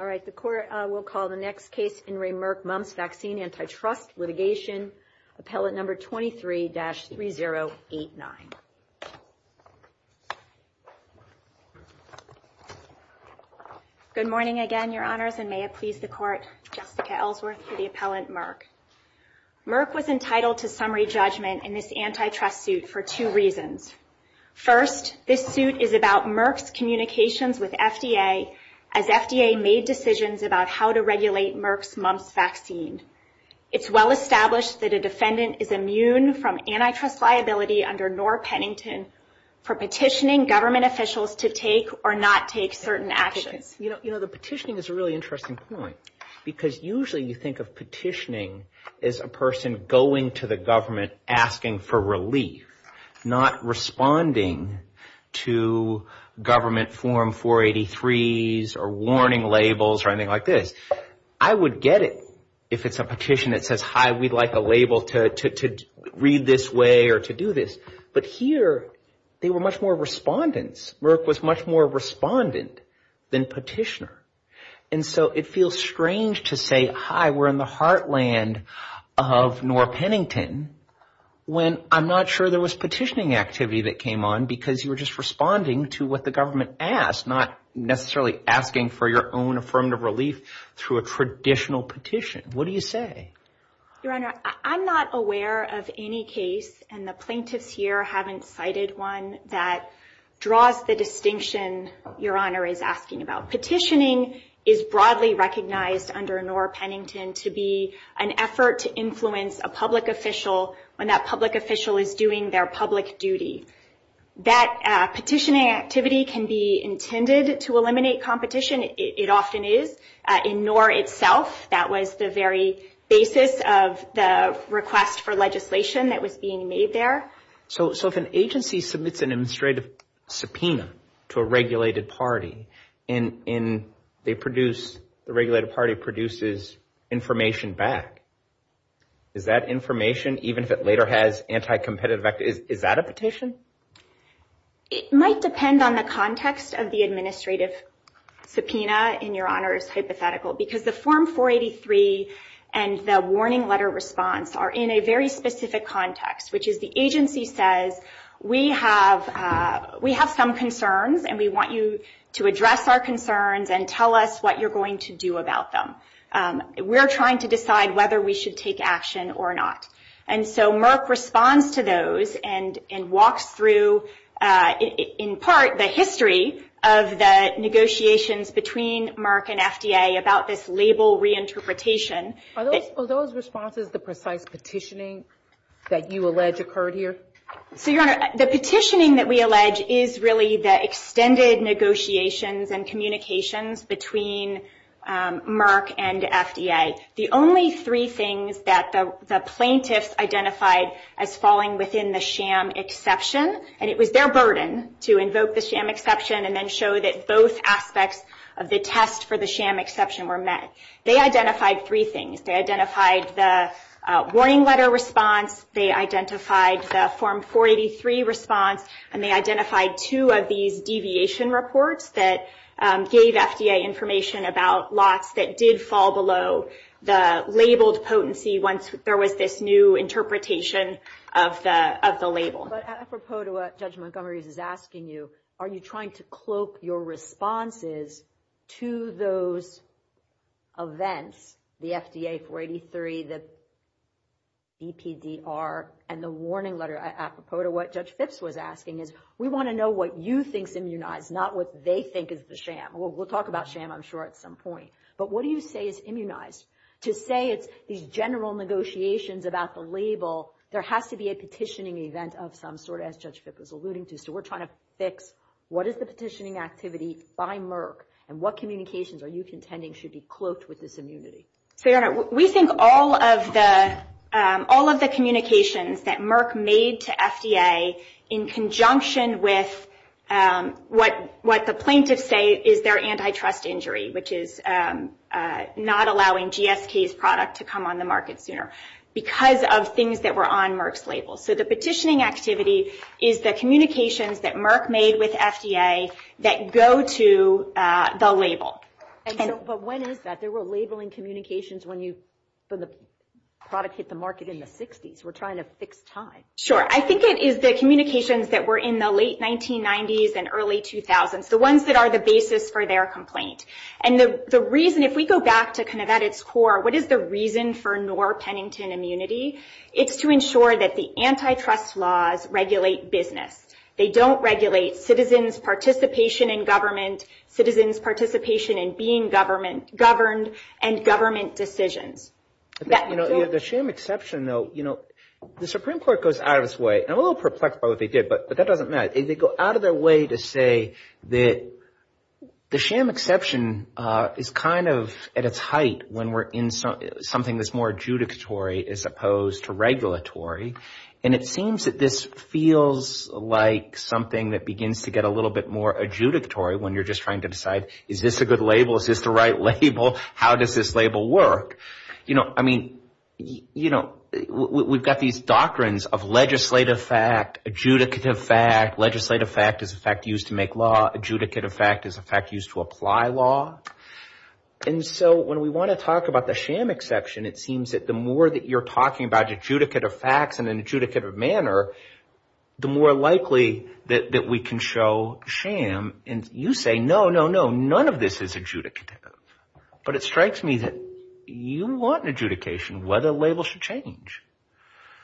Alright, the Court will call the next case, In re Merck Mumps Vaccine Antitrust Litigation, Appellant number 23-3089. Good morning again, Your Honors, and may it please the Court, Jessica Ellsworth for the Appellant Merck. Merck was entitled to summary judgment in this antitrust suit for two reasons. First, this suit is about Merck's communications with FDA as FDA made decisions about how to regulate Merck's Mumps Vaccine. It's well established that a defendant is immune from antitrust liability under Norah Pennington for petitioning government officials to take or not take certain actions. You know, the petitioning is a really interesting point because usually you think of petitioning as a person going to the government asking for relief, not responding to government form 483s or warning labels or anything like this. I would get it if it's a petition that says, hi, we'd like a label to read this way or to do this. But here, they were much more respondents. Merck was much more respondent than petitioner. And so it feels strange to say, hi, we're in the heartland of Norah Pennington when I'm not sure there was petitioning activity that came on because you were just responding to what the government asked, not necessarily asking for your own affirmative relief through a traditional petition. What do you say? Your Honor, I'm not aware of any case, and the plaintiffs here haven't cited one, that draws the distinction Your Honor is asking about. Petitioning is broadly recognized under Norah Pennington to be an effort to influence a public official when that public official is doing their public duty. That petitioning activity can be intended to eliminate competition. It often is. In Norah itself, that was the very basis of the request for legislation that was being made there. So if an agency submits an administrative subpoena to a regulated party, the regulated party produces information back. Is that information, even if it later has anti-competitive activity, is that a petition? It might depend on the context of the administrative subpoena, in Your Honor's hypothetical, because the Form 483 and the warning letter response are in a very specific context, which is the agency says, we have some concerns and we want you to address our concerns and tell us what you're going to do about them. We're trying to decide whether we should take action or not. And so Merck responds to those and walks through, in part, the history of the negotiations between Merck and FDA about this label reinterpretation. Are those responses the precise petitioning that you allege occurred here? So, Your Honor, the petitioning that we allege is really the extended negotiations and communications between Merck and FDA. The only three things that the plaintiffs identified as falling within the sham exception, and it was their burden to invoke the sham exception and then show that both aspects of the test for the sham exception were met. They identified three things. They identified the warning letter response, they identified the Form 483 response, and they identified two of these deviation reports that gave FDA information about lots that did fall below the labeled potency once there was this new interpretation of the label. But apropos to what Judge Montgomery is asking you, are you trying to cloak your responses to those events, the FDA 483, the EPDR, and the warning letter apropos to what Judge Phipps was asking, is we want to know what you think is immunized, not what they think is the sham. We'll talk about sham, I'm sure, at some point. But what do you say is immunized? To say it's these general negotiations about the label, there has to be a petitioning event of some sort, as Judge Phipps was alluding to. So we're trying to fix what is the petitioning activity by Merck, and what communications are you contending should be cloaked with this immunity? We think all of the communications that Merck made to FDA in conjunction with what the plaintiffs say is their antitrust injury, which is not allowing GSK's product to come on the market sooner, because of things that were on Merck's label. So the petitioning activity is the communications that Merck made with FDA that go to the label. But when is that? They were labeling communications when the product hit the market in the 60s. We're trying to fix time. Sure. I think it is the communications that were in the late 1990s and early 2000s, the ones that are the basis for their complaint. And the reason, if we go back to kind of at its core, what is the reason for Norr-Pennington immunity? It's to ensure that the antitrust laws regulate business. They don't regulate citizens' participation in government, citizens' participation in being governed, and government decisions. The sham exception, though, you know, the Supreme Court goes out of its way. I'm a little perplexed by what they did, but that doesn't matter. They go out of their way to say that the sham exception is kind of at its height when we're in something that's more adjudicatory as opposed to regulatory. And it seems that this feels like something that begins to get a little bit more adjudicatory when you're just trying to decide, is this a good label? Is this the right label? How does this label work? You know, I mean, you know, we've got these doctrines of legislative fact, adjudicative fact. Legislative fact is a fact used to make law. Adjudicative fact is a fact used to apply law. And so when we want to talk about the sham exception, it seems that the more that you're talking about adjudicative facts in an adjudicative manner, the more likely that we can show sham. And you say, no, no, no, none of this is adjudicative. But it strikes me that you want adjudication where the label should change.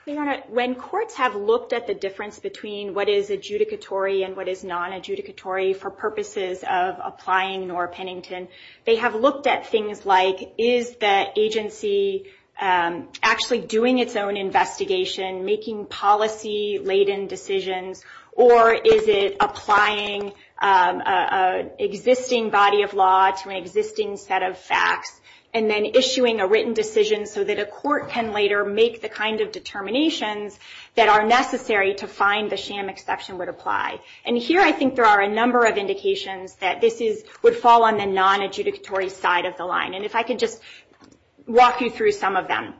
Your Honor, when courts have looked at the difference between what is adjudicatory and what is non-adjudicatory for purposes of applying Norr Pennington, they have looked at things like, is the agency actually doing its own investigation, making policy-laden decisions, or is it applying an existing body of law to an existing set of facts and then issuing a written decision so that a court can later make the kind of determinations that are necessary to find the sham exception would apply. And here I think there are a number of indications that this would fall on the non-adjudicatory side of the line. And if I could just walk you through some of them.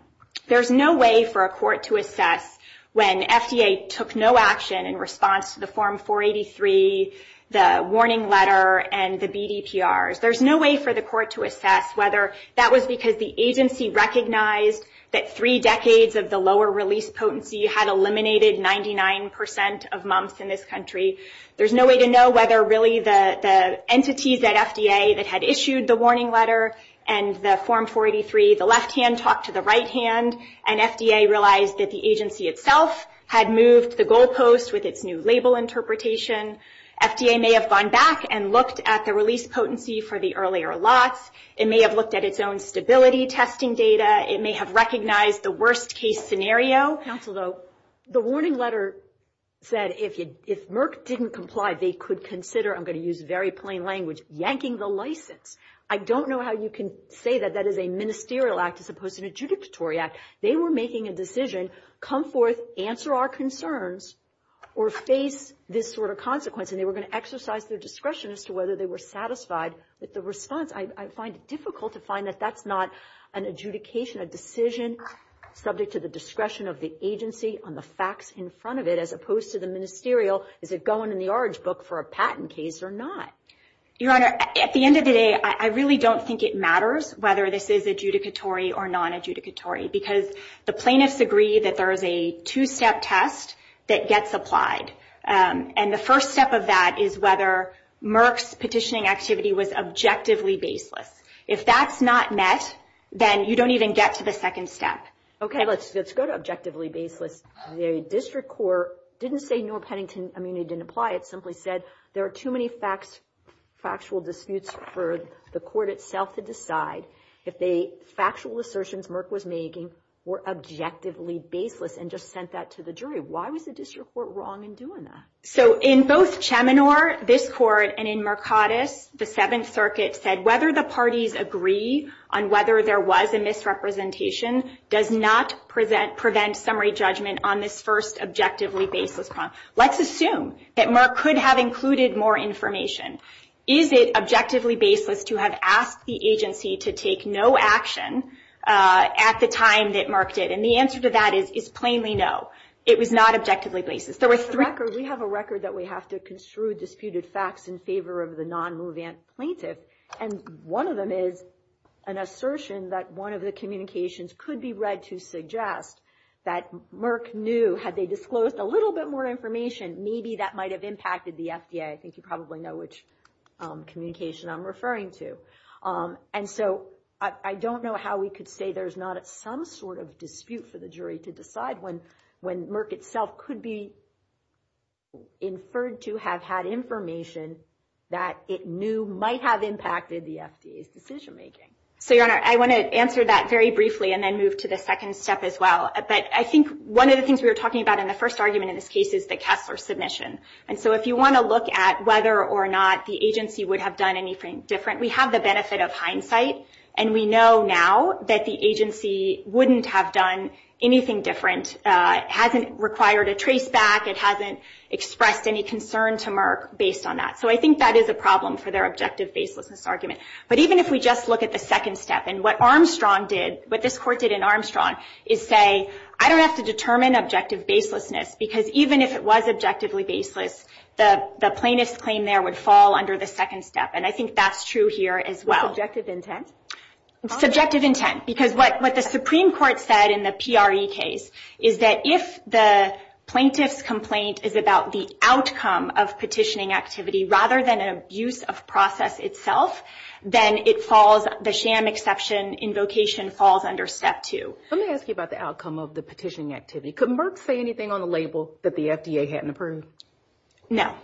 There's no way for a court to assess when FDA took no action in response to the Form 483, the warning letter, and the BDPRs. There's no way for the court to assess whether that was because the agency recognized that three decades of the lower release potency had eliminated 99 percent of mumps in this country. There's no way to know whether really the entities at FDA that had issued the warning letter and the Form 483, the left hand talked to the right hand, and FDA realized that the agency itself had moved the goal post with its new label interpretation. FDA may have gone back and looked at the release potency for the earlier lots. It may have looked at its own stability testing data. It may have recognized the worst-case scenario. Counsel, though, the warning letter said if Merck didn't comply, they could consider, I'm going to use very plain language, yanking the license. I don't know how you can say that that is a ministerial act as opposed to an adjudicatory act. They were making a decision, come forth, answer our concerns, or face this sort of consequence, and they were going to exercise their discretion as to whether they were satisfied with the response. I find it difficult to find that that's not an adjudication, a decision subject to the discretion of the agency on the facts in front of it as opposed to the ministerial, is it going in the orange book for a patent case or not. Your Honor, at the end of the day, I really don't think it matters whether this is adjudicatory or non-adjudicatory because the plaintiffs agree that there is a two-step test that gets applied. And the first step of that is whether Merck's petitioning activity was objectively baseless. If that's not met, then you don't even get to the second step. Okay, let's go to objectively baseless. The district court didn't say Newell-Pennington immunity didn't apply. It simply said there are too many factual disputes for the court itself to decide if the factual assertions Merck was making were objectively baseless and just sent that to the jury. Why was the district court wrong in doing that? So in both Cheminor, this court, and in Mercatus, the Seventh Circuit said whether the parties agree on whether there was a misrepresentation does not prevent summary judgment on this first objectively baseless point. Now, let's assume that Merck could have included more information. Is it objectively baseless to have asked the agency to take no action at the time that Merck did? And the answer to that is plainly no. It was not objectively baseless. We have a record that we have to construe disputed facts in favor of the non-Mouvant plaintiff, and one of them is an assertion that one of the communications could be read to suggest that Merck knew had they disclosed a little bit more information, maybe that might have impacted the FDA. I think you probably know which communication I'm referring to. And so I don't know how we could say there's not some sort of dispute for the jury to decide when Merck itself could be inferred to have had information that it knew might have impacted the FDA's decision-making. So, Your Honor, I want to answer that very briefly and then move to the second step as well. But I think one of the things we were talking about in the first argument in this case is the Kessler submission. And so if you want to look at whether or not the agency would have done anything different, we have the benefit of hindsight, and we know now that the agency wouldn't have done anything different. It hasn't required a trace back. It hasn't expressed any concern to Merck based on that. So I think that is a problem for their objective baselessness argument. But even if we just look at the second step, and what Armstrong did, what this court did in Armstrong is say, I don't have to determine objective baselessness, because even if it was objectively baseless, the plaintiff's claim there would fall under the second step. And I think that's true here as well. What's objective intent? Subjective intent, because what the Supreme Court said in the PRE case is that if the plaintiff's complaint is about the outcome of petitioning activity rather than an abuse of process itself, then the sham exception invocation falls under step two. Let me ask you about the outcome of the petitioning activity. Could Merck say anything on the label that the FDA hadn't approved? No,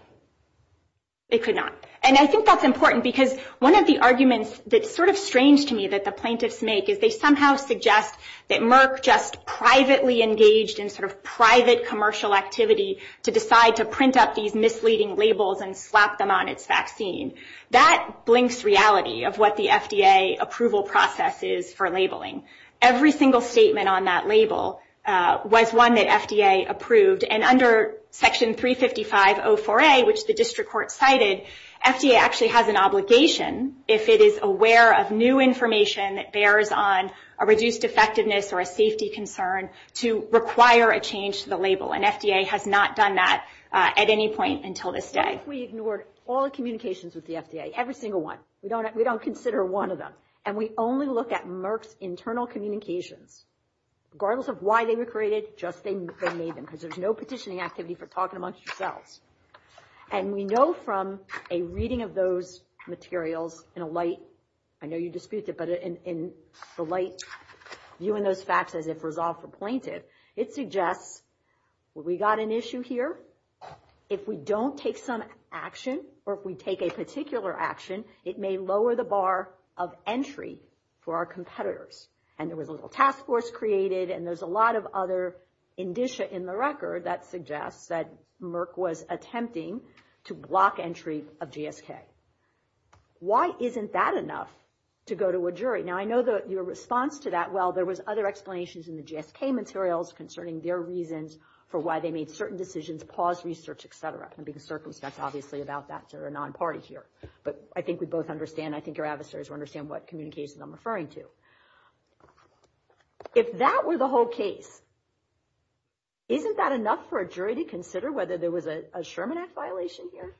it could not. And I think that's important because one of the arguments that's sort of strange to me that the plaintiffs make is they somehow suggest that Merck just privately engaged in sort of private commercial activity to decide to print up these misleading labels and slap them on its vaccine. That blinks reality of what the FDA approval process is for labeling. Every single statement on that label was one that FDA approved. And under Section 355.04a, which the district court cited, FDA actually has an obligation, if it is aware of new information that bears on a reduced effectiveness or a safety concern, to require a change to the label. And FDA has not done that at any point until this day. What if we ignored all the communications with the FDA, every single one? We don't consider one of them. And we only look at Merck's internal communications, regardless of why they were created, just they made them because there's no petitioning activity for talking amongst yourselves. And we know from a reading of those materials in a light, I know you disputed it, in the light, viewing those facts as if resolved for plaintiff, it suggests we got an issue here. If we don't take some action, or if we take a particular action, it may lower the bar of entry for our competitors. And there was a little task force created, and there's a lot of other indicia in the record that suggests that Merck was attempting to block entry of GSK. Why isn't that enough to go to a jury? Now, I know your response to that, well, there was other explanations in the GSK materials concerning their reasons for why they made certain decisions, paused research, et cetera. I'm being circumspect, obviously, about that. They're a non-party here. But I think we both understand. I think our adversaries will understand what communications I'm referring to. If that were the whole case, isn't that enough for a jury to consider whether there was a Sherman Act violation here?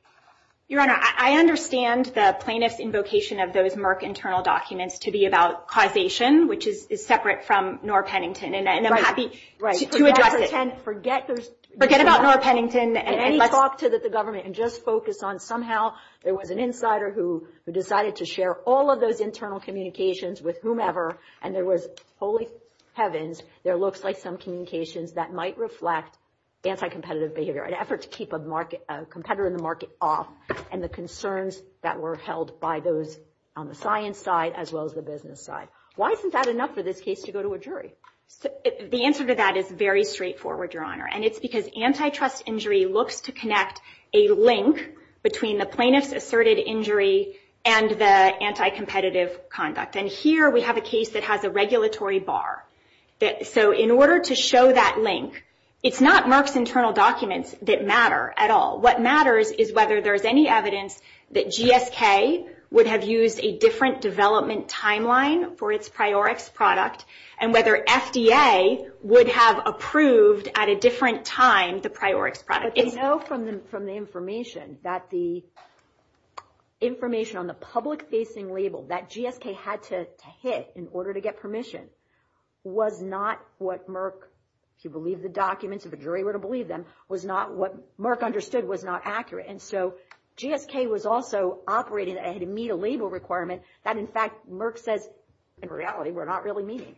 Your Honor, I understand the plaintiff's invocation of those Merck internal documents to be about causation, which is separate from Norr Pennington. And I'm happy to address it. Forget about Norr Pennington and any talk to the government, and just focus on somehow there was an insider who decided to share all of those internal communications with whomever, and there was, holy heavens, there looks like some communications that might reflect anti-competitive behavior. An effort to keep a competitor in the market off, and the concerns that were held by those on the science side as well as the business side. Why isn't that enough for this case to go to a jury? The answer to that is very straightforward, Your Honor. And it's because antitrust injury looks to connect a link between the plaintiff's asserted injury and the anti-competitive conduct. And here we have a case that has a regulatory bar. So in order to show that link, it's not Merck's internal documents that matter at all. What matters is whether there's any evidence that GSK would have used a different development timeline for its Priorix product, and whether FDA would have approved at a different time the Priorix product. But they know from the information that the information on the public-facing label that GSK had to hit in order to get permission was not what Merck, if you believe the documents, if a jury were to believe them, was not what Merck understood was not accurate. And so GSK was also operating to meet a label requirement that, in fact, Merck says, in reality, we're not really meeting.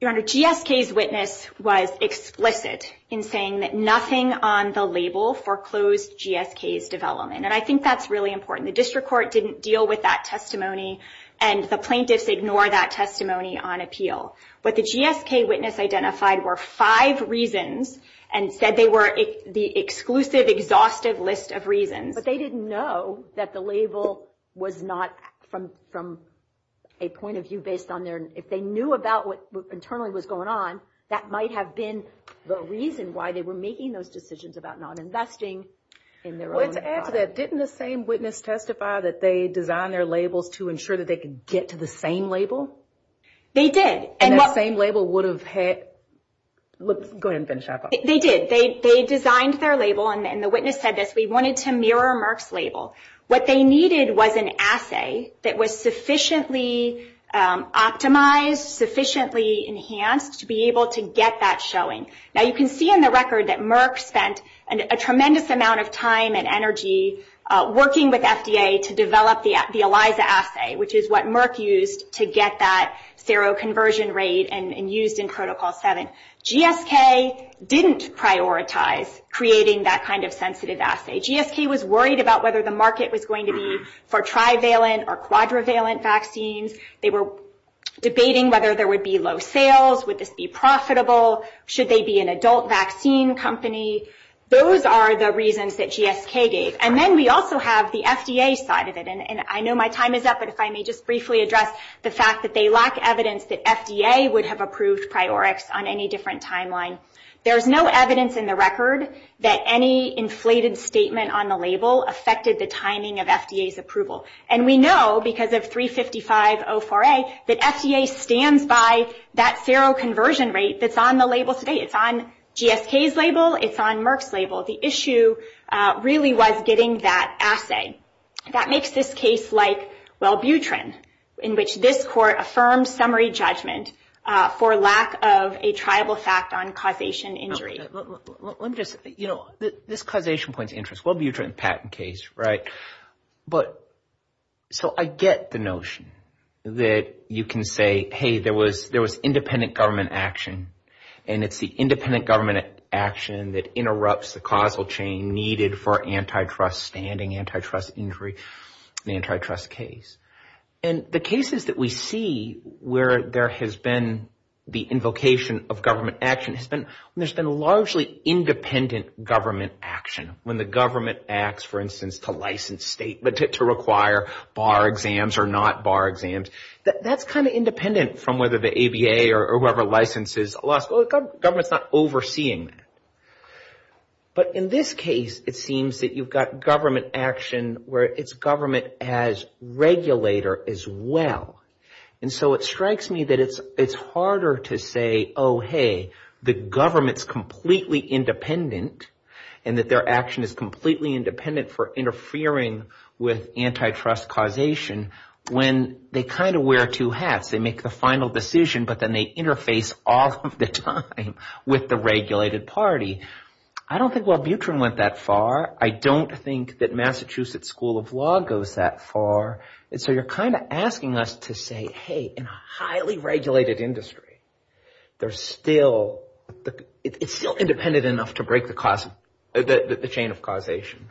Your Honor, GSK's witness was explicit in saying that nothing on the label foreclosed GSK's development. And I think that's really important. The district court didn't deal with that testimony, and the plaintiffs ignore that testimony on appeal. But the GSK witness identified were five reasons and said they were the exclusive, exhaustive list of reasons. But they didn't know that the label was not, from a point of view based on their, if they knew about what internally was going on, that might have been the reason why they were making those decisions about not investing in their own product. Well, let's add to that. Didn't the same witness testify that they designed their labels to ensure that they could get to the same label? They did. And that same label would have had, go ahead and finish up. They did. They designed their label, and the witness said this, we wanted to mirror Merck's label. What they needed was an assay that was sufficiently optimized, sufficiently enhanced to be able to get that showing. Now you can see in the record that Merck spent a tremendous amount of time and energy working with FDA to develop the ELISA assay, which is what Merck used to get that seroconversion rate and used in Protocol 7. GSK didn't prioritize creating that kind of sensitive assay. GSK was worried about whether the market was going to be for trivalent or quadrivalent vaccines. They were debating whether there would be low sales, would this be profitable, should they be an adult vaccine company. Those are the reasons that GSK gave. And then we also have the FDA side of it. And I know my time is up, but if I may just briefly address the fact that they lack evidence that FDA would have approved Priorix on any different timeline. There's no evidence in the record that any inflated statement on the label affected the timing of FDA's approval. And we know, because of 355.04a, that FDA stands by that seroconversion rate that's on the label today. It's on GSK's label, it's on Merck's label. The issue really was getting that assay. That makes this case like Wellbutrin, in which this court affirmed summary judgment for lack of a triable fact on causation injury. Let me just, you know, this causation point's interest, Wellbutrin patent case, right? But so I get the notion that you can say, hey, there was independent government action, and it's the independent government action that interrupts the causal chain needed for antitrust standing, antitrust injury, the antitrust case. And the cases that we see where there has been the invocation of government action has been when there's been largely independent government action. When the government acts, for instance, to license statements, to require bar exams or not bar exams, that's kind of independent from whether the ABA or whoever licenses a law school. The government's not overseeing that. But in this case, it seems that you've got government action where it's government as regulator as well. And so it strikes me that it's harder to say, oh, hey, the government's completely independent, and that their action is completely independent for interfering with antitrust causation when they kind of wear two hats. They make the final decision, but then they interface all of the time with the regulated party. I don't think Wellbutrin went that far. I don't think that Massachusetts School of Law goes that far. And so you're kind of asking us to say, hey, in a highly regulated industry, there's still, it's still independent enough to break the chain of causation.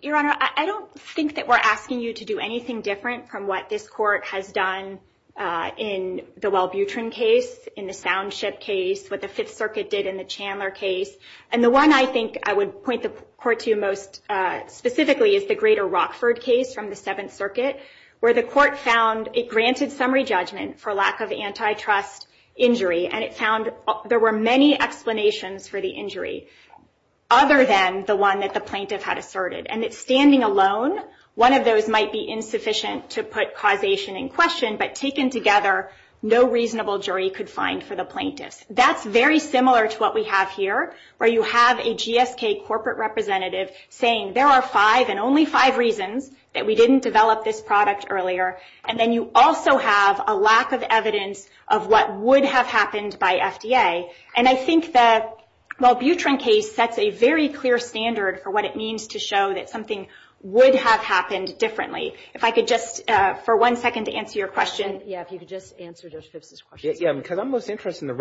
Your Honor, I don't think that we're asking you to do anything different from what this court has done in the Wellbutrin case, in the Soundship case, what the Fifth Circuit did in the Chandler case. And the one I think I would point the court to most specifically is the greater Rockford case from the Seventh Circuit, where the court found it granted summary judgment for lack of antitrust injury. And it found there were many explanations for the injury other than the one that the plaintiff had asserted. And it's standing alone. One of those might be insufficient to put causation in question, but taken together, no reasonable jury could find for the plaintiffs. That's very similar to what we have here, where you have a GSK corporate representative saying there are five and only five reasons that we didn't develop this product earlier. And then you also have a lack of evidence of what would have happened by FDA. And I think the Wellbutrin case sets a very clear standard for what it means to show that something would have happened differently. If I could just, for one second, to answer your question. Yeah, if you could just answer Judge Phipps' question. Yeah, because I'm most interested in the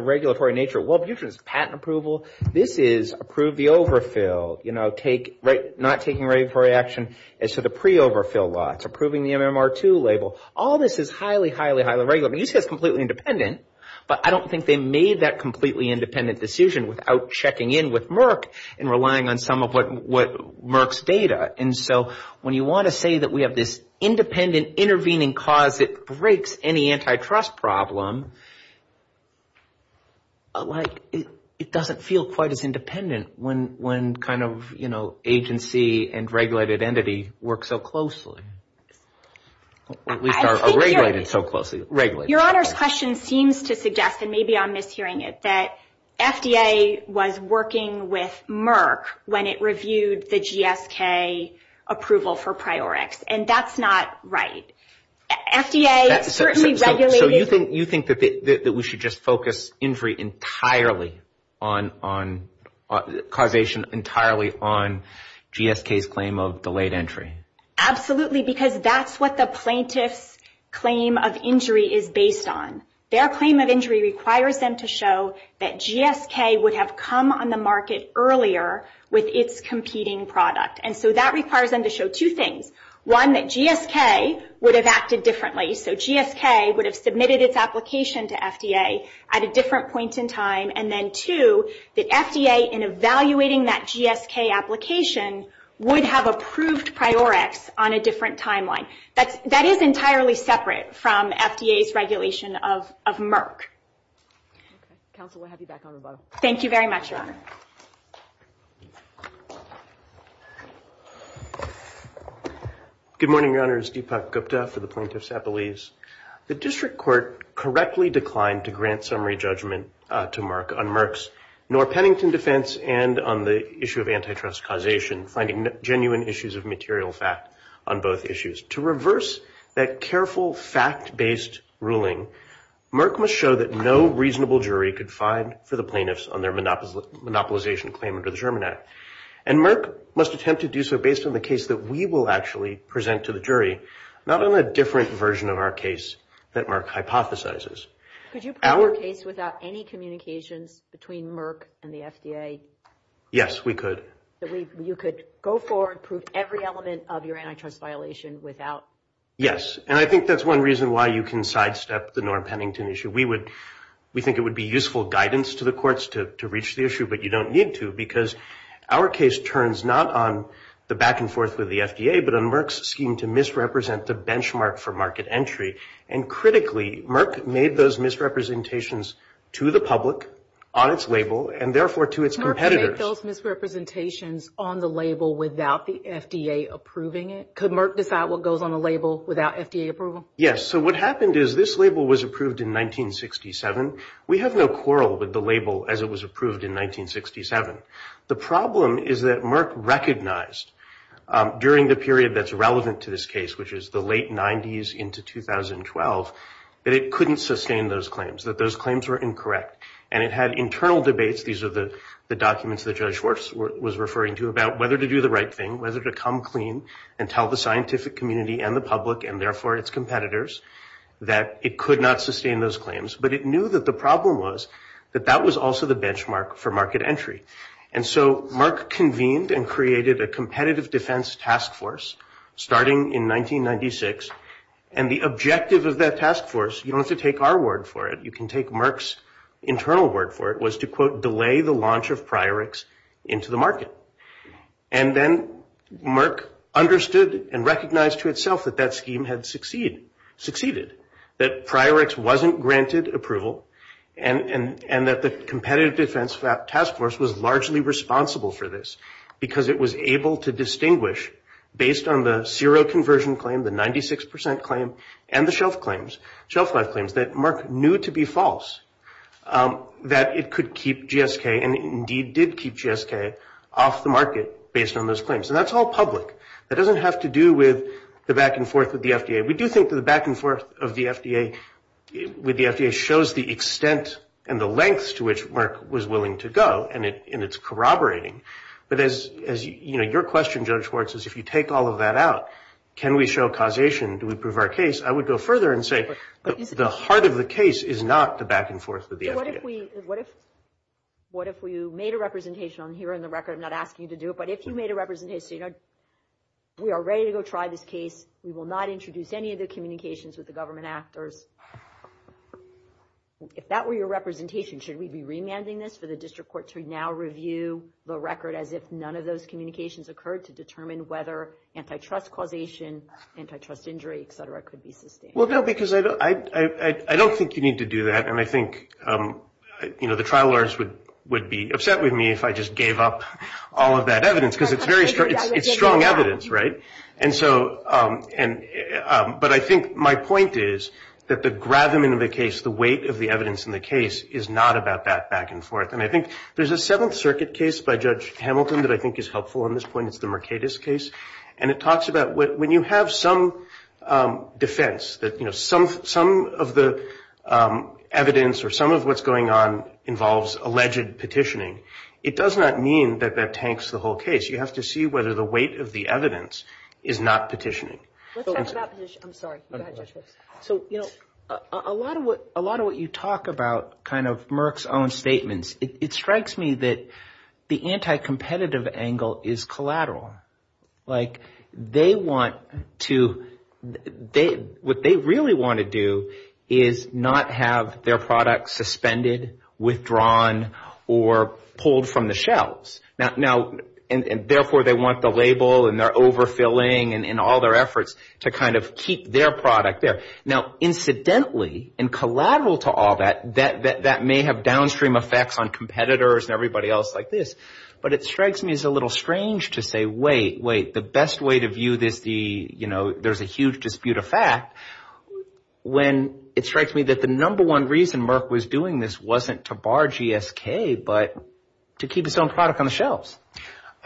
regulatory nature. Wellbutrin is patent approval. This is approve the overfill, not taking regulatory action. And so the pre-overfill law, it's approving the MMR2 label. All this is highly, highly, highly regulated. I mean, you say it's completely independent, but I don't think they made that completely independent decision without checking in with Merck and relying on some of Merck's data. And so when you want to say that we have this independent intervening cause that breaks any antitrust problem, like it doesn't feel quite as independent when kind of agency and regulated entity work so closely. Or at least are regulated so closely. Your Honor's question seems to suggest, and maybe I'm mishearing it, that FDA was working with Merck when it reviewed the GSK approval for Priorix, and that's not right. FDA certainly regulated... So you think that we should just focus injury entirely on causation, entirely on GSK's claim of delayed entry? Absolutely, because that's what the plaintiff's claim of injury is based on. Their claim of injury requires them to show that GSK would have come on the market earlier with its competing product. And so that requires them to show two things. One, that GSK would have acted differently. So GSK would have submitted its application to FDA at a different point in time. And then two, that FDA, in evaluating that GSK application, would have approved Priorix on a different timeline. That is entirely separate from FDA's regulation of Merck. Counsel, we'll have you back on the bottom. Thank you very much, Your Honor. Good morning, Your Honors. Deepak Gupta for the Plaintiff's Appellees. The District Court correctly declined to grant summary judgment to Merck on Merck's and on the issue of antitrust causation, finding genuine issues of material fact on both issues. To reverse that careful, fact-based ruling, Merck must show that no reasonable jury could find for the plaintiffs on their monopolization claim under the Sherman Act. And Merck must attempt to do so based on the case that we will actually present to the jury, not on a different version of our case that Merck hypothesizes. Could you prove your case without any communications between Merck and the FDA? Yes, we could. You could go forward and prove every element of your antitrust violation without? Yes. And I think that's one reason why you can sidestep the Norm Pennington issue. We think it would be useful guidance to the courts to reach the issue, but you don't need to because our case turns not on the back and forth with the FDA, but on Merck's scheme to misrepresent the benchmark for market entry. And critically, Merck made those misrepresentations to the public on its label and therefore to its competitors. Merck made those misrepresentations on the label without the FDA approving it. Could Merck decide what goes on the label without FDA approval? Yes. So what happened is this label was approved in 1967. We have no quarrel with the label as it was approved in 1967. The problem is that Merck recognized during the period that's relevant to this case, which is the late 90s into 2012, that it couldn't sustain those claims, that those claims were incorrect. And it had internal debates. These are the documents that Judge Schwartz was referring to about whether to do the right thing, whether to come clean and tell the scientific community and the public and therefore its competitors that it could not sustain those claims. But it knew that the problem was that that was also the benchmark for market entry. And so Merck convened and created a competitive defense task force starting in 1996. And the objective of that task force, you don't have to take our word for it, you can take Merck's internal word for it, was to, quote, delay the launch of Priorix into the market. And then Merck understood and recognized to itself that that scheme had succeeded, that Priorix wasn't granted approval and that the competitive defense task force was largely responsible for this because it was able to distinguish based on the zero conversion claim, the 96 percent claim, and the shelf life claims that Merck knew to be false, that it could keep GSK and indeed did keep GSK off the market based on those claims. And that's all public. That doesn't have to do with the back and forth with the FDA. We do think that the back and forth of the FDA with the FDA shows the extent and the lengths to which Merck was willing to go, and it's corroborating. But as, you know, your question, Judge Schwartz, is if you take all of that out, can we show causation? Do we prove our case? I would go further and say the heart of the case is not the back and forth with the FDA. What if we made a representation on here in the record? I'm not asking you to do it. But if you made a representation, you know, we are ready to go try this case. We will not introduce any of the communications with the government actors. If that were your representation, should we be remanding this for the district court to now review the record as if none of those communications occurred to determine whether antitrust causation, antitrust injury, et cetera, could be sustained? Well, no, because I don't think you need to do that. And I think, you know, the trial lawyers would be upset with me if I just gave up all of that evidence because it's very strong evidence, right? And so but I think my point is that the gravamen of the case, the weight of the evidence in the case, is not about that back and forth. And I think there's a Seventh Circuit case by Judge Hamilton that I think is helpful on this point. It's the Mercatus case. And it talks about when you have some defense that, you know, some of the evidence or some of what's going on involves alleged petitioning, it does not mean that that tanks the whole case. You have to see whether the weight of the evidence is not petitioning. Let's talk about petitioning. I'm sorry. Go ahead, Judge Brooks. So, you know, a lot of what you talk about kind of Merck's own statements, it strikes me that the anti-competitive angle is collateral. Like they want to they what they really want to do is not have their product suspended, withdrawn, or pulled from the shelves. Now, and therefore they want the label and they're overfilling and all their efforts to kind of keep their product there. Now, incidentally, and collateral to all that, that may have downstream effects on competitors and everybody else like this. But it strikes me as a little strange to say, wait, wait, the best way to view this, you know, there's a huge dispute of fact when it strikes me that the number one reason Merck was doing this wasn't to bar GSK, but to keep its own product on the shelves.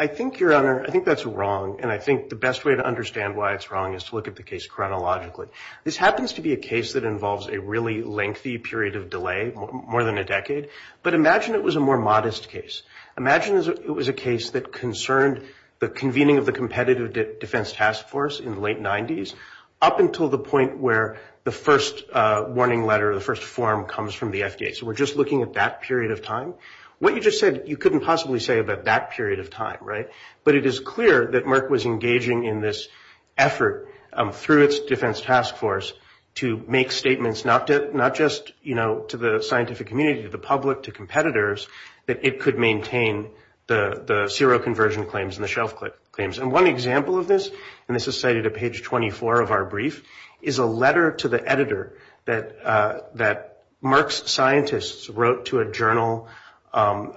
I think, Your Honor, I think that's wrong. And I think the best way to understand why it's wrong is to look at the case chronologically. This happens to be a case that involves a really lengthy period of delay, more than a decade. But imagine it was a more modest case. Imagine it was a case that concerned the convening of the Competitive Defense Task Force in the late 90s, up until the point where the first warning letter, the first form comes from the FDA. So we're just looking at that period of time. What you just said, you couldn't possibly say about that period of time, right? But it is clear that Merck was engaging in this effort through its Defense Task Force to make statements, not just, you know, to the scientific community, to the public, to competitors, that it could maintain the zero conversion claims and the shelf claims. And one example of this, and this is cited at page 24 of our brief, is a letter to the editor that Merck's scientists wrote to a journal on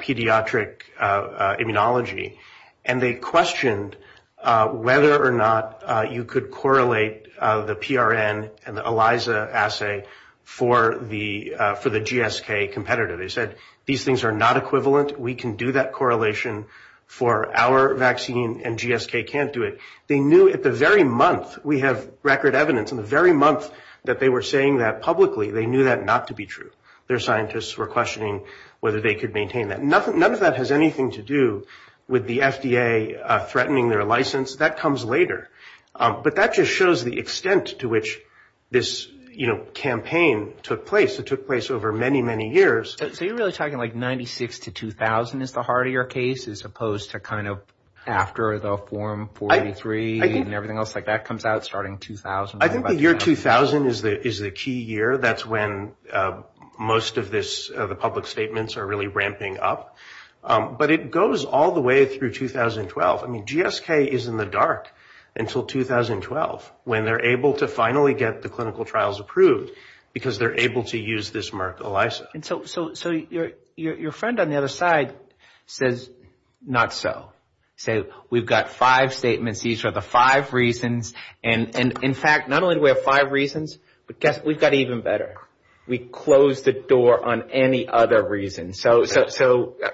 pediatric immunology. And they questioned whether or not you could correlate the PRN and the ELISA assay for the GSK competitive. They said, These things are not equivalent. We can do that correlation for our vaccine, and GSK can't do it. They knew at the very month, we have record evidence, in the very month that they were saying that publicly, they knew that not to be true. Their scientists were questioning whether they could maintain that. None of that has anything to do with the FDA threatening their license. That comes later. But that just shows the extent to which this, you know, campaign took place. It took place over many, many years. So you're really talking like 96 to 2000 is the heart of your case, as opposed to kind of after the Form 43 and everything else like that comes out starting 2000. I think the year 2000 is the key year. That's when most of the public statements are really ramping up. But it goes all the way through 2012. I mean, GSK is in the dark until 2012, when they're able to finally get the clinical trials approved, because they're able to use this Merck ELISA. So your friend on the other side says, not so. Say, we've got five statements. These are the five reasons. And, in fact, not only do we have five reasons, but guess what? We've got even better. We closed the door on any other reason. So,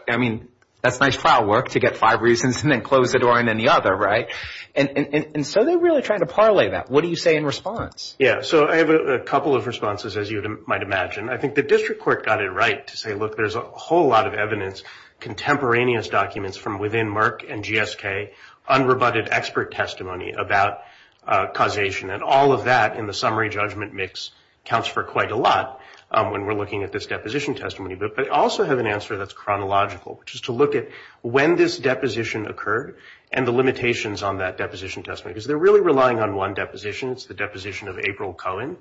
I mean, that's nice file work to get five reasons and then close the door on any other, right? And so they're really trying to parlay that. What do you say in response? Yeah, so I have a couple of responses, as you might imagine. I think the district court got it right to say, look, there's a whole lot of evidence, contemporaneous documents from within Merck and GSK, unrebutted expert testimony about causation, and all of that in the summary judgment mix counts for quite a lot when we're looking at this deposition testimony. But I also have an answer that's chronological, which is to look at when this deposition occurred and the limitations on that deposition testimony, because they're really relying on one deposition. It's the deposition of April Cohen.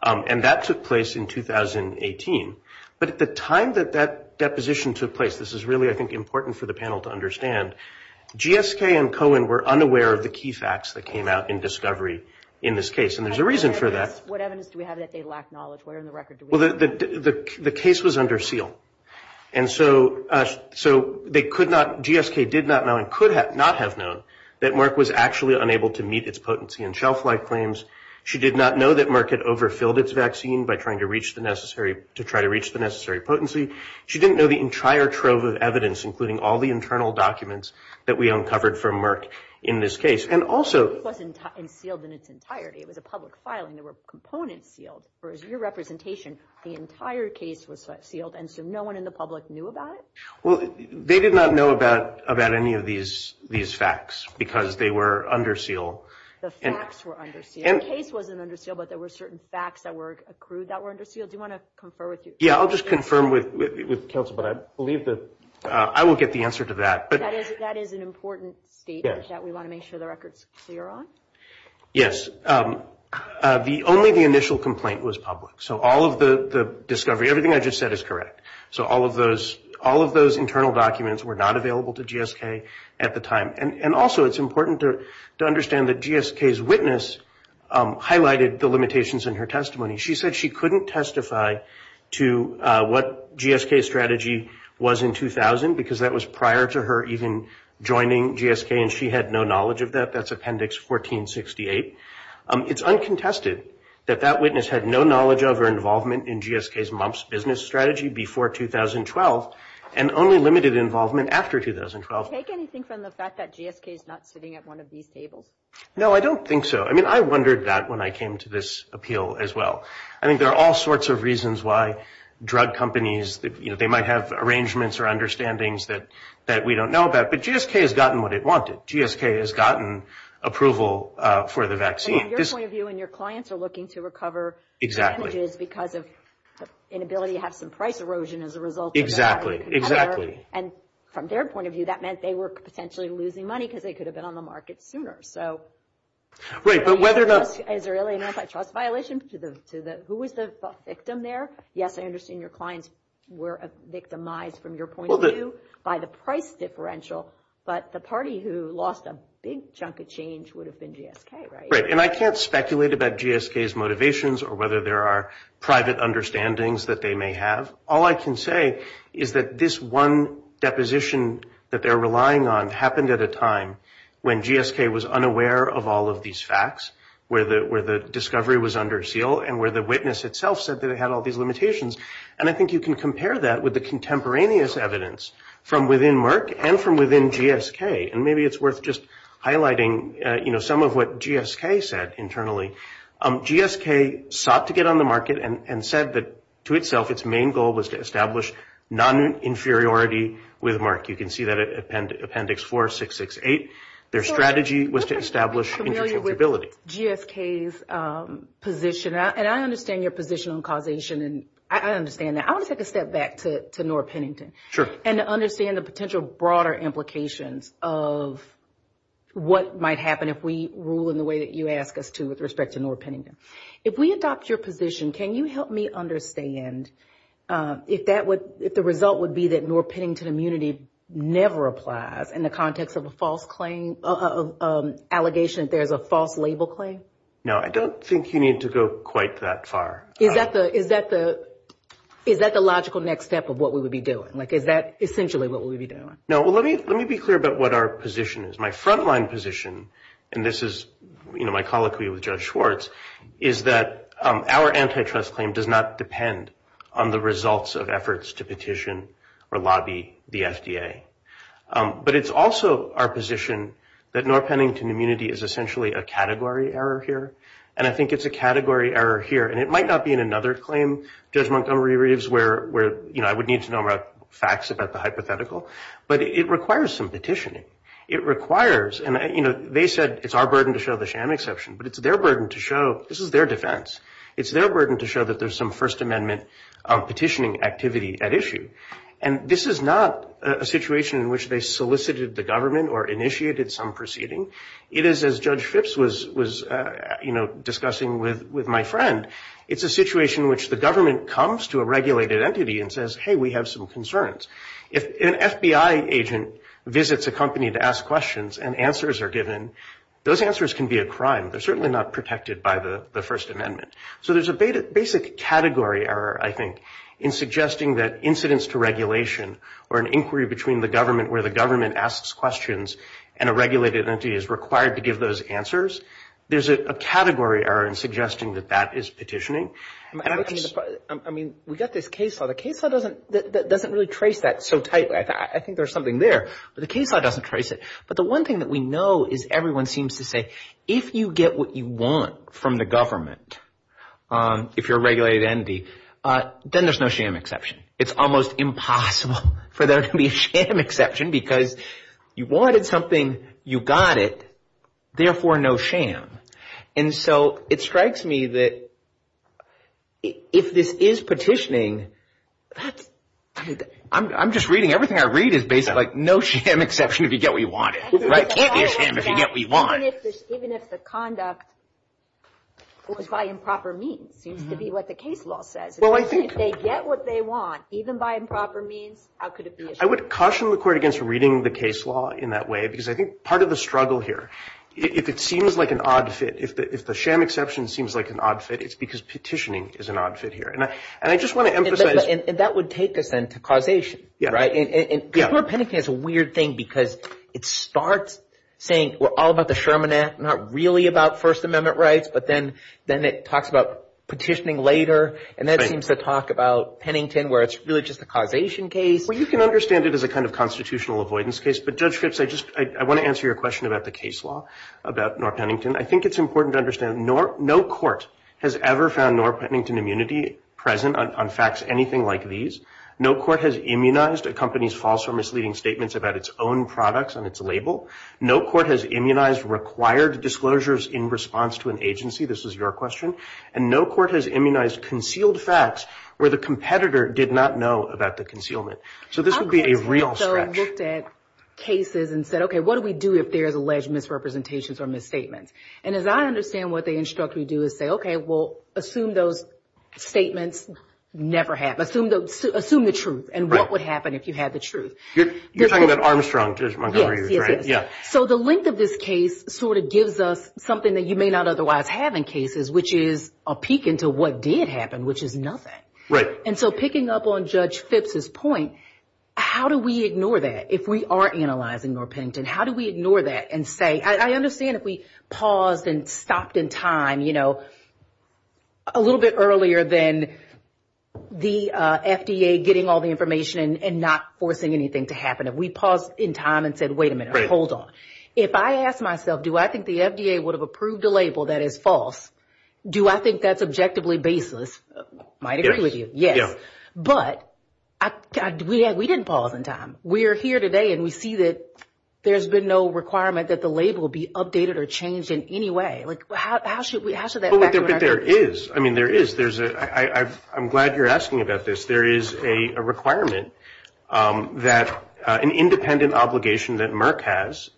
And that took place in 2018. But at the time that that deposition took place, this is really, I think, important for the panel to understand, GSK and Cohen were unaware of the key facts that came out in discovery in this case. And there's a reason for that. What evidence do we have that they lack knowledge? What on the record do we have? Well, the case was under seal. And so GSK did not know and could not have known that Merck was actually unable to meet its potency and shelf-life claims. She did not know that Merck had overfilled its vaccine by trying to reach the necessary potency. She didn't know the entire trove of evidence, including all the internal documents, that we uncovered from Merck in this case. And also — The case wasn't sealed in its entirety. It was a public filing. There were components sealed. For your representation, the entire case was sealed, and so no one in the public knew about it? Well, they did not know about any of these facts because they were under seal. The facts were under seal. The case wasn't under seal, but there were certain facts that were accrued that were under seal. Do you want to confer with you? Yeah, I'll just confirm with counsel, but I believe that I will get the answer to that. That is an important statement that we want to make sure the record's clear on? Yes. Only the initial complaint was public. So all of the discovery, everything I just said is correct. So all of those internal documents were not available to GSK at the time. And also it's important to understand that GSK's witness highlighted the limitations in her testimony. She said she couldn't testify to what GSK's strategy was in 2000 because that was prior to her even joining GSK and she had no knowledge of that. That's Appendix 1468. It's uncontested that that witness had no knowledge of or involvement in GSK's mumps business strategy before 2012 and only limited involvement after 2012. Do you take anything from the fact that GSK is not sitting at one of these tables? No, I don't think so. I mean, I wondered that when I came to this appeal as well. I think there are all sorts of reasons why drug companies, you know, they might have arrangements or understandings that we don't know about. But GSK has gotten what it wanted. GSK has gotten approval for the vaccine. From your point of view and your clients are looking to recover damages because of inability to have some price erosion as a result. Exactly, exactly. And from their point of view, that meant they were potentially losing money because they could have been on the market sooner. So is there really an antitrust violation? Who was the victim there? Yes, I understand your clients were victimized from your point of view by the price differential, but the party who lost a big chunk of change would have been GSK, right? Right, and I can't speculate about GSK's motivations or whether there are private understandings that they may have. All I can say is that this one deposition that they're relying on happened at a time when GSK was unaware of all of these facts, where the discovery was under seal and where the witness itself said that it had all these limitations. And I think you can compare that with the contemporaneous evidence from within Merck and from within GSK. And maybe it's worth just highlighting, you know, some of what GSK said internally. GSK sought to get on the market and said that, to itself, its main goal was to establish non-inferiority with Merck. You can see that in Appendix 4668. Their strategy was to establish interchangeability. I'm familiar with GSK's position, and I understand your position on causation, and I understand that. I want to take a step back to Nora Pennington. Sure. And to understand the potential broader implications of what might happen if we rule in the way that you ask us to with respect to Nora Pennington. If we adopt your position, can you help me understand if the result would be that Nora Pennington immunity never applies in the context of a false claim, an allegation that there's a false label claim? No, I don't think you need to go quite that far. Is that the logical next step of what we would be doing? Like, is that essentially what we would be doing? No, well, let me be clear about what our position is. My frontline position, and this is my colloquy with Judge Schwartz, is that our antitrust claim does not depend on the results of efforts to petition or lobby the FDA. But it's also our position that Nora Pennington immunity is essentially a category error here, and I think it's a category error here. And it might not be in another claim, Judge Montgomery Reeves, where I would need to know facts about the hypothetical, but it requires some petitioning. It requires, and, you know, they said it's our burden to show the sham exception, but it's their burden to show this is their defense. It's their burden to show that there's some First Amendment petitioning activity at issue. And this is not a situation in which they solicited the government or initiated some proceeding. It is, as Judge Phipps was, you know, discussing with my friend, it's a situation in which the government comes to a regulated entity and says, hey, we have some concerns. If an FBI agent visits a company to ask questions and answers are given, those answers can be a crime. They're certainly not protected by the First Amendment. So there's a basic category error, I think, in suggesting that incidents to regulation or an inquiry between the government where the government asks questions and a regulated entity is required to give those answers, there's a category error in suggesting that that is petitioning. I mean, we've got this case law. The case law doesn't really trace that so tightly. I think there's something there, but the case law doesn't trace it. But the one thing that we know is everyone seems to say if you get what you want from the government, if you're a regulated entity, then there's no sham exception. It's almost impossible for there to be a sham exception because you wanted something, you got it, therefore no sham. And so it strikes me that if this is petitioning, I'm just reading everything I read is basically no sham exception if you get what you wanted. It is sham if you get what you want. Even if the conduct was by improper means, seems to be what the case law says. If they get what they want, even by improper means, how could it be a sham? I would caution the Court against reading the case law in that way because I think part of the struggle here, if it seems like an odd fit, if the sham exception seems like an odd fit, it's because petitioning is an odd fit here. And I just want to emphasize – And that would take us then to causation, right? Yeah. And Kepler-Pennington is a weird thing because it starts saying we're all about the Sherman Act, not really about First Amendment rights, but then it talks about petitioning later, and then it seems to talk about Pennington where it's really just a causation case. Well, you can understand it as a kind of constitutional avoidance case, but Judge Phipps, I want to answer your question about the case law, about North Pennington. I think it's important to understand no court has ever found North Pennington immunity present on facts anything like these. No court has immunized a company's false or misleading statements about its own products on its label. No court has immunized required disclosures in response to an agency. This is your question. And no court has immunized concealed facts where the competitor did not know about the concealment. So this would be a real stretch. I looked at cases and said, okay, what do we do if there's alleged misrepresentations or misstatements? And as I understand what they instruct we do is say, okay, well, assume those statements never happened. Assume the truth and what would happen if you had the truth. You're talking about Armstrong, Judge Montgomery, right? Yes, yes, yes. So the length of this case sort of gives us something that you may not otherwise have in cases, which is a peek into what did happen, which is nothing. Right. And so picking up on Judge Phipps' point, how do we ignore that if we are analyzing North Pennington? How do we ignore that and say, I understand if we paused and stopped in time, you know, a little bit earlier than the FDA getting all the information and not forcing anything to happen. If we paused in time and said, wait a minute, hold on. If I ask myself do I think the FDA would have approved a label that is false, do I think that's objectively baseless? I might agree with you. Yes. But we didn't pause in time. We are here today and we see that there's been no requirement that the label be updated or changed in any way. Like how should that factor in? But there is. I mean, there is. I'm glad you're asking about this. There is a requirement that an independent obligation that Merck has,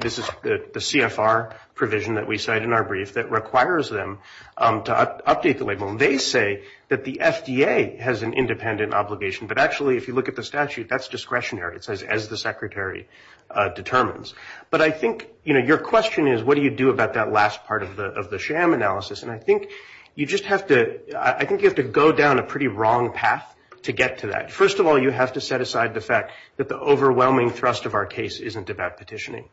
this is the CFR provision that we cite in our brief that requires them to update the label. They say that the FDA has an independent obligation. But actually, if you look at the statute, that's discretionary. It says as the secretary determines. But I think, you know, your question is what do you do about that last part of the sham analysis? And I think you just have to go down a pretty wrong path to get to that. First of all, you have to set aside the fact that the overwhelming thrust of our case isn't about petitioning.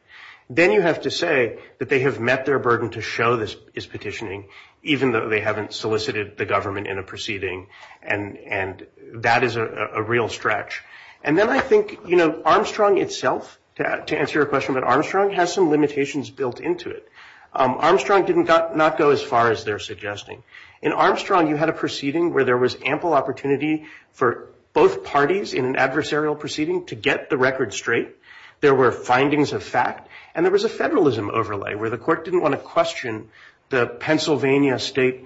Then you have to say that they have met their burden to show this is petitioning, even though they haven't solicited the government in a proceeding. And that is a real stretch. And then I think, you know, Armstrong itself, to answer your question, but Armstrong has some limitations built into it. Armstrong did not go as far as they're suggesting. In Armstrong, you had a proceeding where there was ample opportunity for both parties in an adversarial proceeding to get the record straight. There were findings of fact. And there was a federalism overlay where the court didn't want to question the Pennsylvania state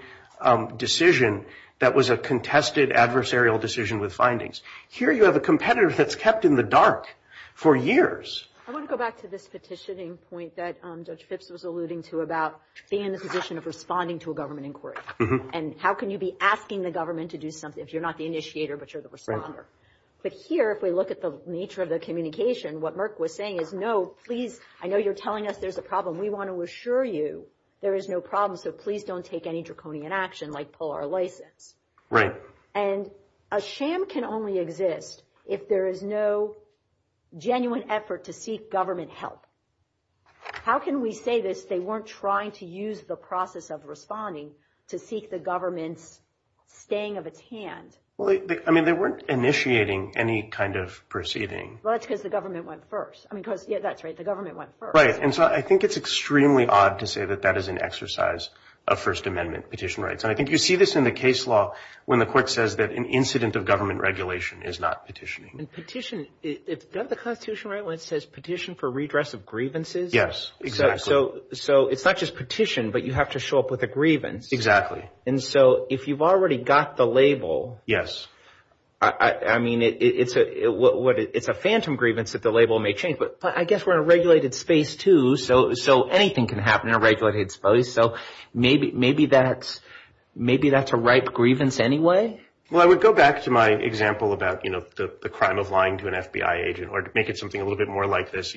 decision that was a contested adversarial decision with findings. Here you have a competitor that's kept in the dark for years. I want to go back to this petitioning point that Judge Phipps was alluding to about being in the position of responding to a government inquiry. And how can you be asking the government to do something if you're not the initiator but you're the responder? But here, if we look at the nature of the communication, what Merck was saying is, I know you're telling us there's a problem. We want to assure you there is no problem, so please don't take any draconian action like pull our license. Right. And a sham can only exist if there is no genuine effort to seek government help. How can we say this? They weren't trying to use the process of responding to seek the government's staying of its hand. Well, I mean, they weren't initiating any kind of proceeding. Well, that's because the government went first. I mean, because, yeah, that's right, the government went first. Right. And so I think it's extremely odd to say that that is an exercise of First Amendment petition rights. And I think you see this in the case law when the court says that an incident of government regulation is not petitioning. And petition, is that the Constitution right when it says petition for redress of grievances? Yes, exactly. So it's not just petition, but you have to show up with a grievance. Exactly. And so if you've already got the label. Yes. I mean, it's a phantom grievance that the label may change. But I guess we're in a regulated space, too, so anything can happen in a regulated space. So maybe that's a ripe grievance anyway. Well, I would go back to my example about the crime of lying to an FBI agent or to make it something a little bit more like this.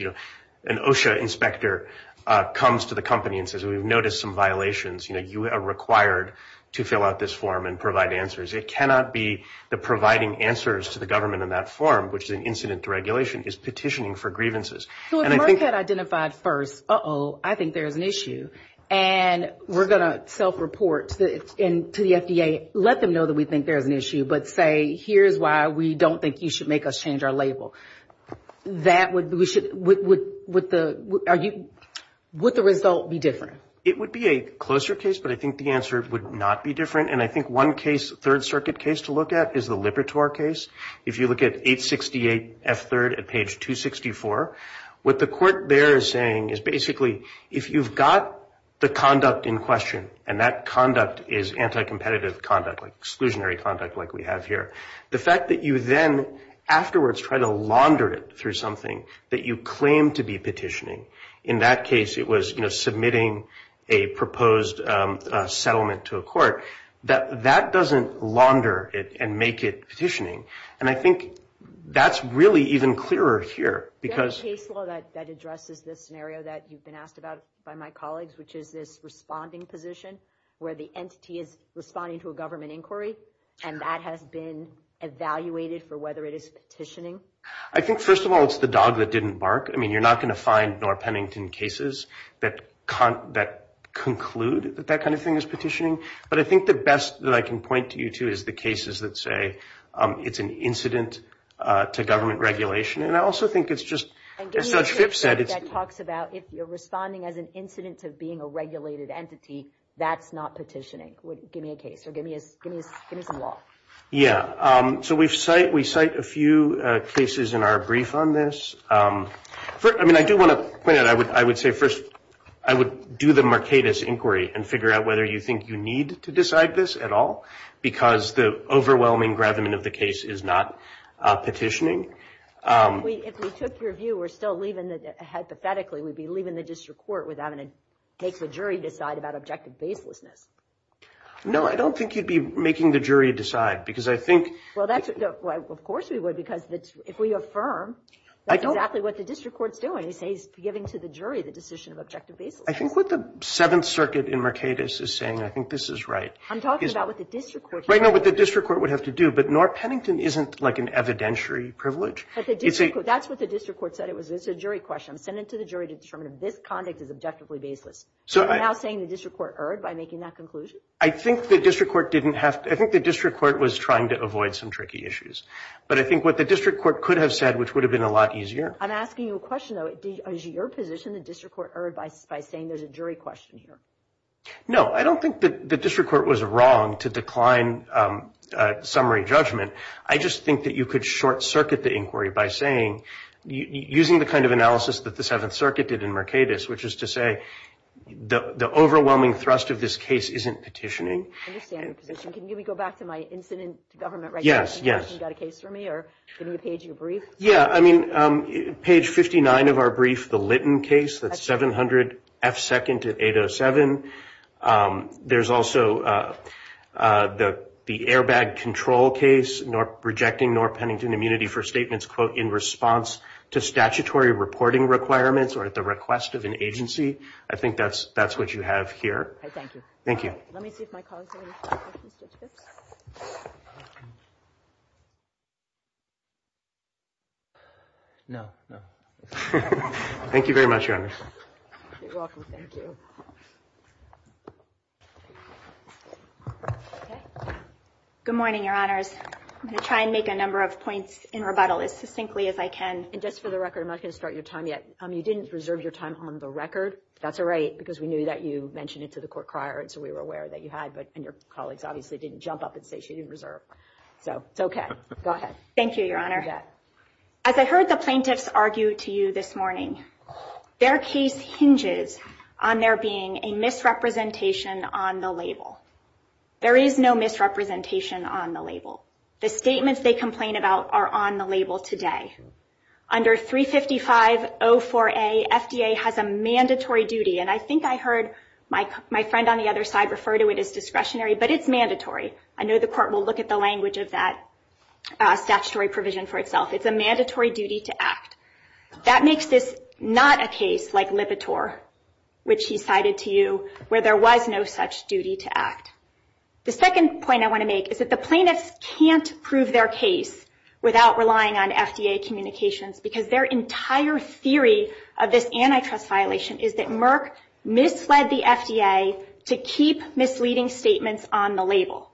An OSHA inspector comes to the company and says, we've noticed some violations. You are required to fill out this form and provide answers. It cannot be the providing answers to the government in that form, which is an incident to regulation, is petitioning for grievances. So if Merck had identified first, uh-oh, I think there's an issue, and we're going to self-report to the FDA, let them know that we think there's an issue, but say, here's why we don't think you should make us change our label. Would the result be different? It would be a closer case, but I think the answer would not be different. And I think one case, third circuit case, to look at is the Libertor case. If you look at 868F3 at page 264, what the court there is saying is basically if you've got the conduct in question, and that conduct is anti-competitive conduct, like exclusionary conduct like we have here, the fact that you then afterwards try to launder it through something that you claim to be petitioning, in that case it was submitting a proposed settlement to a court, that that doesn't launder it and make it petitioning. And I think that's really even clearer here. Is there any case law that addresses this scenario that you've been asked about by my colleagues, which is this responding position where the entity is responding to a government inquiry, and that has been evaluated for whether it is petitioning? I think, first of all, it's the dog that didn't bark. I mean, you're not going to find nor Pennington cases that conclude that that kind of thing is petitioning. But I think the best that I can point you to is the cases that say it's an incident to government regulation. And I also think it's just, as Judge Phipps said, it's... And give me a case that talks about if you're responding as an incident to being a regulated entity, that's not petitioning. Give me a case or give me some law. Yeah. So we cite a few cases in our brief on this. I mean, I do want to point out, I would say, first, I would do the Mercatus inquiry and figure out whether you think you need to decide this at all, because the overwhelming gravamen of the case is not petitioning. If we took your view, we're still leaving the... Hypothetically, we'd be leaving the district court without having to make the jury decide about objective baselessness. No, I don't think you'd be making the jury decide, because I think... Well, of course we would, because if we affirm that's exactly what the district court's doing, you say he's giving to the jury the decision of objective baselessness. I think what the Seventh Circuit in Mercatus is saying, I think this is right... I'm talking about what the district court... Right now, what the district court would have to do, but nor Pennington isn't like an evidentiary privilege. That's what the district court said. It was a jury question. I'm sending it to the jury to determine if this conduct is objectively baseless. You're now saying the district court erred by making that conclusion? I think the district court didn't have to... I think the district court was trying to avoid some tricky issues, but I think what the district court could have said, which would have been a lot easier... I'm asking you a question, though. Is your position the district court erred by saying there's a jury question here? No, I don't think the district court was wrong to decline summary judgment. I just think that you could short-circuit the inquiry by saying, using the kind of analysis that the Seventh Circuit did in Mercatus, which is to say the overwhelming thrust of this case isn't petitioning. I understand your position. Can we go back to my incident government regulations? Yes, yes. Have you got a case for me, or give me a page of your brief? Yeah, I mean, page 59 of our brief, the Litton case, that's 700 F. 2nd to 807. There's also the airbag control case, rejecting nor Pennington immunity for statements, quote, in response to statutory reporting requirements or at the request of an agency. I think that's what you have here. Thank you. Thank you. Let me see if my colleagues have any questions. No, no. Thank you very much, Your Honors. You're welcome. Thank you. Good morning, Your Honors. I'm going to try and make a number of points in rebuttal as succinctly as I can. And just for the record, I'm not going to start your time yet. You didn't reserve your time on the record. That's all right, because we knew that you mentioned it to the court prior, and so we were aware that you had, but your colleagues obviously didn't jump up and say she didn't reserve. So it's okay. Go ahead. Thank you, Your Honor. As I heard the plaintiffs argue to you this morning, their case hinges on there being a misrepresentation on the label. There is no misrepresentation on the label. The statements they complain about are on the label today. Under 35504A, FDA has a mandatory duty, and I think I heard my friend on the other side refer to it as discretionary, but it's mandatory. I know the court will look at the language of that statutory provision for itself. It's a mandatory duty to act. That makes this not a case like Lipitor, which he cited to you where there was no such duty to act. The second point I want to make is that the plaintiffs can't prove their case without relying on FDA communications, because their entire theory of this antitrust violation is that Merck misled the FDA to keep misleading statements on the label.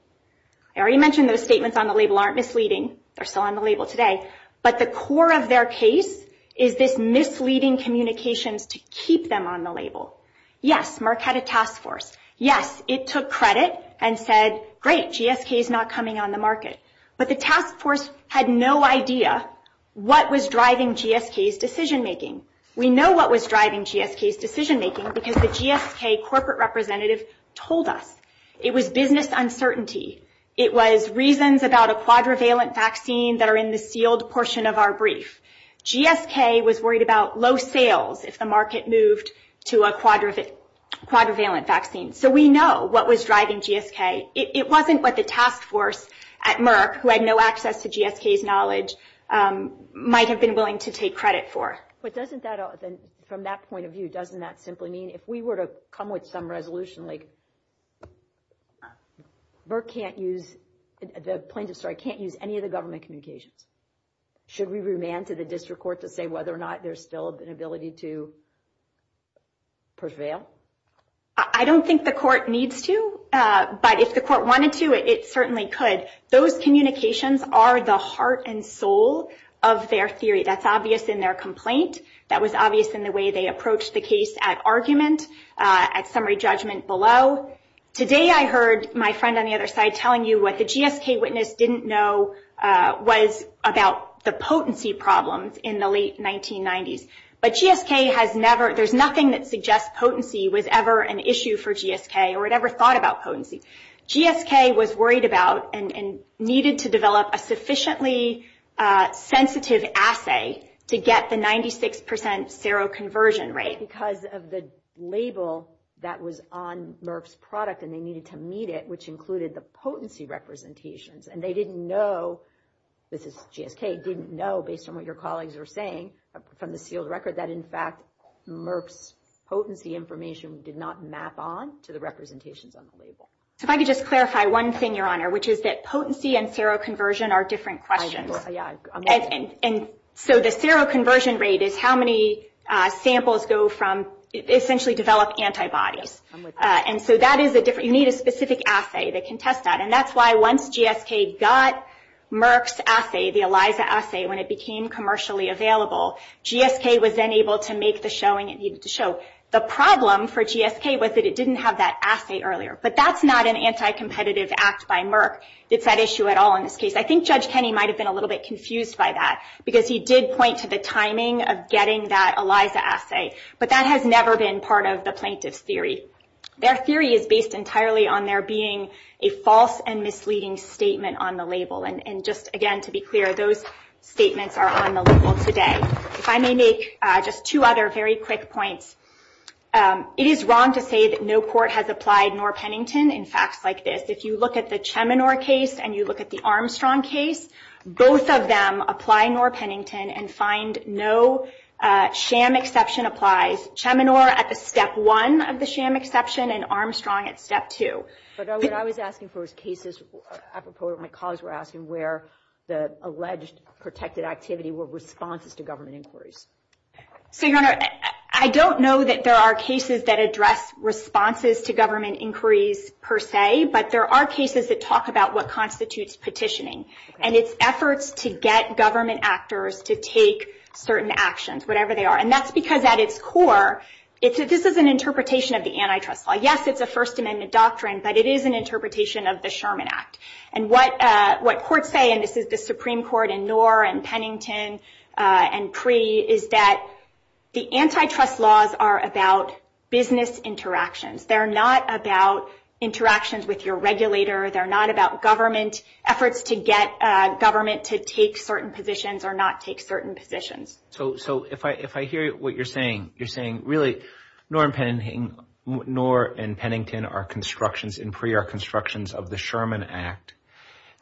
I already mentioned those statements on the label aren't misleading. They're still on the label today. But the core of their case is this misleading communications to keep them on the label. Yes, Merck had a task force. Yes, it took credit and said, great, GSK is not coming on the market. But the task force had no idea what was driving GSK's decision making. We know what was driving GSK's decision making, because the GSK corporate representative told us. It was business uncertainty. It was reasons about a quadrivalent vaccine that are in the sealed portion of our brief. GSK was worried about low sales if the market moved to a quadrivalent vaccine. So we know what was driving GSK. It wasn't what the task force at Merck, who had no access to GSK's knowledge, might have been willing to take credit for. But doesn't that, from that point of view, doesn't that simply mean, if we were to come with some resolution like Merck can't use the plaintiff's story, can't use any of the government communications? Should we remand to the district court to say whether or not there's still an ability to prevail? I don't think the court needs to. But if the court wanted to, it certainly could. Those communications are the heart and soul of their theory. That's obvious in their complaint. That was obvious in the way they approached the case at argument, at summary judgment below. Today I heard my friend on the other side telling you what the GSK witness didn't know was about the potency problems in the late 1990s. But GSK has never, there's nothing that suggests potency was ever an issue for GSK or it ever thought about potency. GSK was worried about and needed to develop a sufficiently sensitive assay to get the 96% seroconversion rate. Because of the label that was on Merck's product and they needed to meet it, which included the potency representations. And they didn't know, this is GSK, didn't know, based on what your colleagues were saying, from the sealed record, that in fact Merck's potency information did not map on to the representations on the label. So if I could just clarify one thing, Your Honor, which is that potency and seroconversion are different questions. And so the seroconversion rate is how many samples go from, essentially develop antibodies. And so that is a different, you need a specific assay that can test that. And that's why once GSK got Merck's assay, the ELISA assay, when it became commercially available, GSK was then able to make the showing it needed to show. The problem for GSK was that it didn't have that assay earlier. But that's not an anti-competitive act by Merck. It's not an issue at all in this case. I think Judge Kenney might have been a little bit confused by that. Because he did point to the timing of getting that ELISA assay. But that has never been part of the plaintiff's theory. Their theory is based entirely on there being a false and misleading statement on the label. And just, again, to be clear, those statements are on the label today. If I may make just two other very quick points. It is wrong to say that no court has applied Norr-Pennington in facts like this. If you look at the Cheminor case and you look at the Armstrong case, both of them apply Norr-Pennington and find no sham exception applies. Cheminor at the step one of the sham exception and Armstrong at step two. But what I was asking for was cases, apropos of what my colleagues were asking, where the alleged protected activity were responses to government inquiries. So, Your Honor, I don't know that there are cases that address responses to government inquiries per se. But there are cases that talk about what constitutes petitioning. And it's efforts to get government actors to take certain actions, whatever they are. And that's because at its core, this is an interpretation of the antitrust law. Yes, it's a First Amendment doctrine. But it is an interpretation of the Sherman Act. And what courts say, and this is the Supreme Court in Norr and Pennington and Pree, is that the antitrust laws are about business interactions. They're not about interactions with your regulator. They're not about government efforts to get government to take certain positions or not take certain positions. So if I hear what you're saying, you're saying really Norr and Pennington are constructions, and Pree are constructions of the Sherman Act.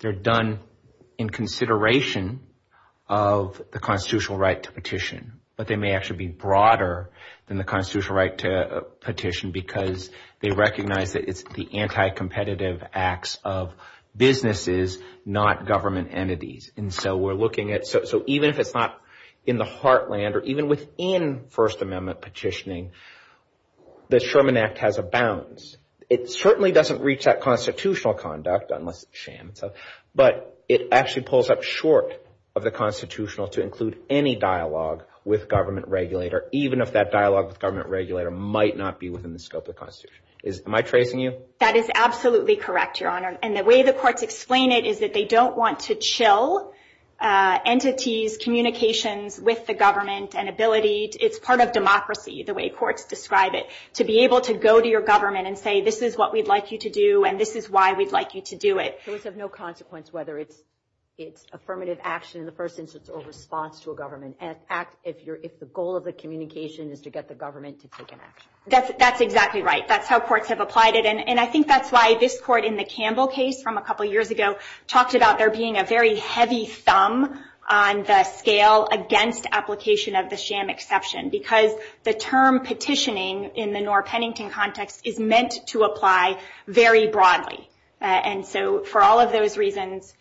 They're done in consideration of the constitutional right to petition. But they may actually be broader than the constitutional right to petition because they recognize that it's the anti-competitive acts of businesses, not government entities. And so we're looking at – so even if it's not in the heartland or even within First Amendment petitioning, the Sherman Act has a balance. It certainly doesn't reach that constitutional conduct, unless sham and stuff, but it actually pulls up short of the constitutional to include any dialogue with government regulator, even if that dialogue with government regulator might not be within the scope of the Constitution. Am I tracing you? That is absolutely correct, Your Honor. And the way the courts explain it is that they don't want to chill entities' communications with the government. It's part of democracy, the way courts describe it, to be able to go to your government and say, this is what we'd like you to do, and this is why we'd like you to do it. So it's of no consequence whether it's affirmative action in the first instance or response to a government act if the goal of the communication is to get the government to take an action. That's exactly right. That's how courts have applied it. And I think that's why this court in the Campbell case from a couple years ago talked about there being a very heavy thumb on the scale against application of the sham exception, because the term petitioning in the Norr-Pennington context is meant to apply very broadly. And so for all of those reasons,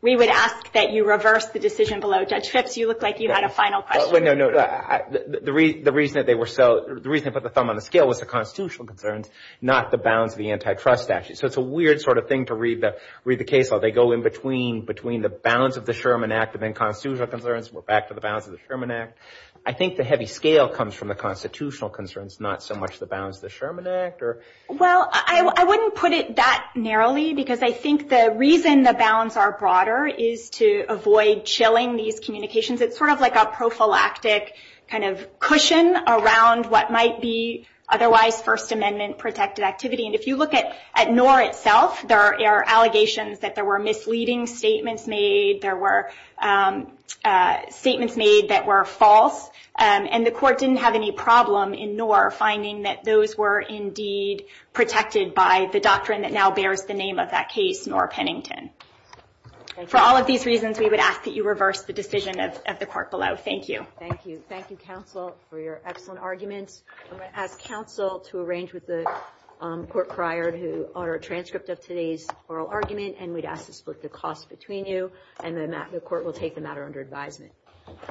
we would ask that you reverse the decision below. Judge Phipps, you look like you had a final question. No, no. The reason they put the thumb on the scale was the constitutional concerns, not the bounds of the antitrust statute. So it's a weird sort of thing to read the case law. They go in between the bounds of the Sherman Act and then constitutional concerns. We're back to the bounds of the Sherman Act. I think the heavy scale comes from the constitutional concerns, not so much the bounds of the Sherman Act. Well, I wouldn't put it that narrowly, because I think the reason the bounds are broader is to avoid chilling these communications. It's sort of like a prophylactic kind of cushion around what might be otherwise First Amendment-protected activity. And if you look at Norr itself, there are allegations that there were misleading statements made, there were statements made that were false, and the court didn't have any problem in Norr finding that those were indeed protected by the doctrine that now bears the name of that case, Norr-Pennington. For all of these reasons, we would ask that you reverse the decision of the court below. Thank you. Thank you. Thank you, counsel, for your excellent arguments. I'm going to ask counsel to arrange with the court prior to our transcript of today's oral argument, and we'd ask to split the cost between you, and the court will take the matter under advisement.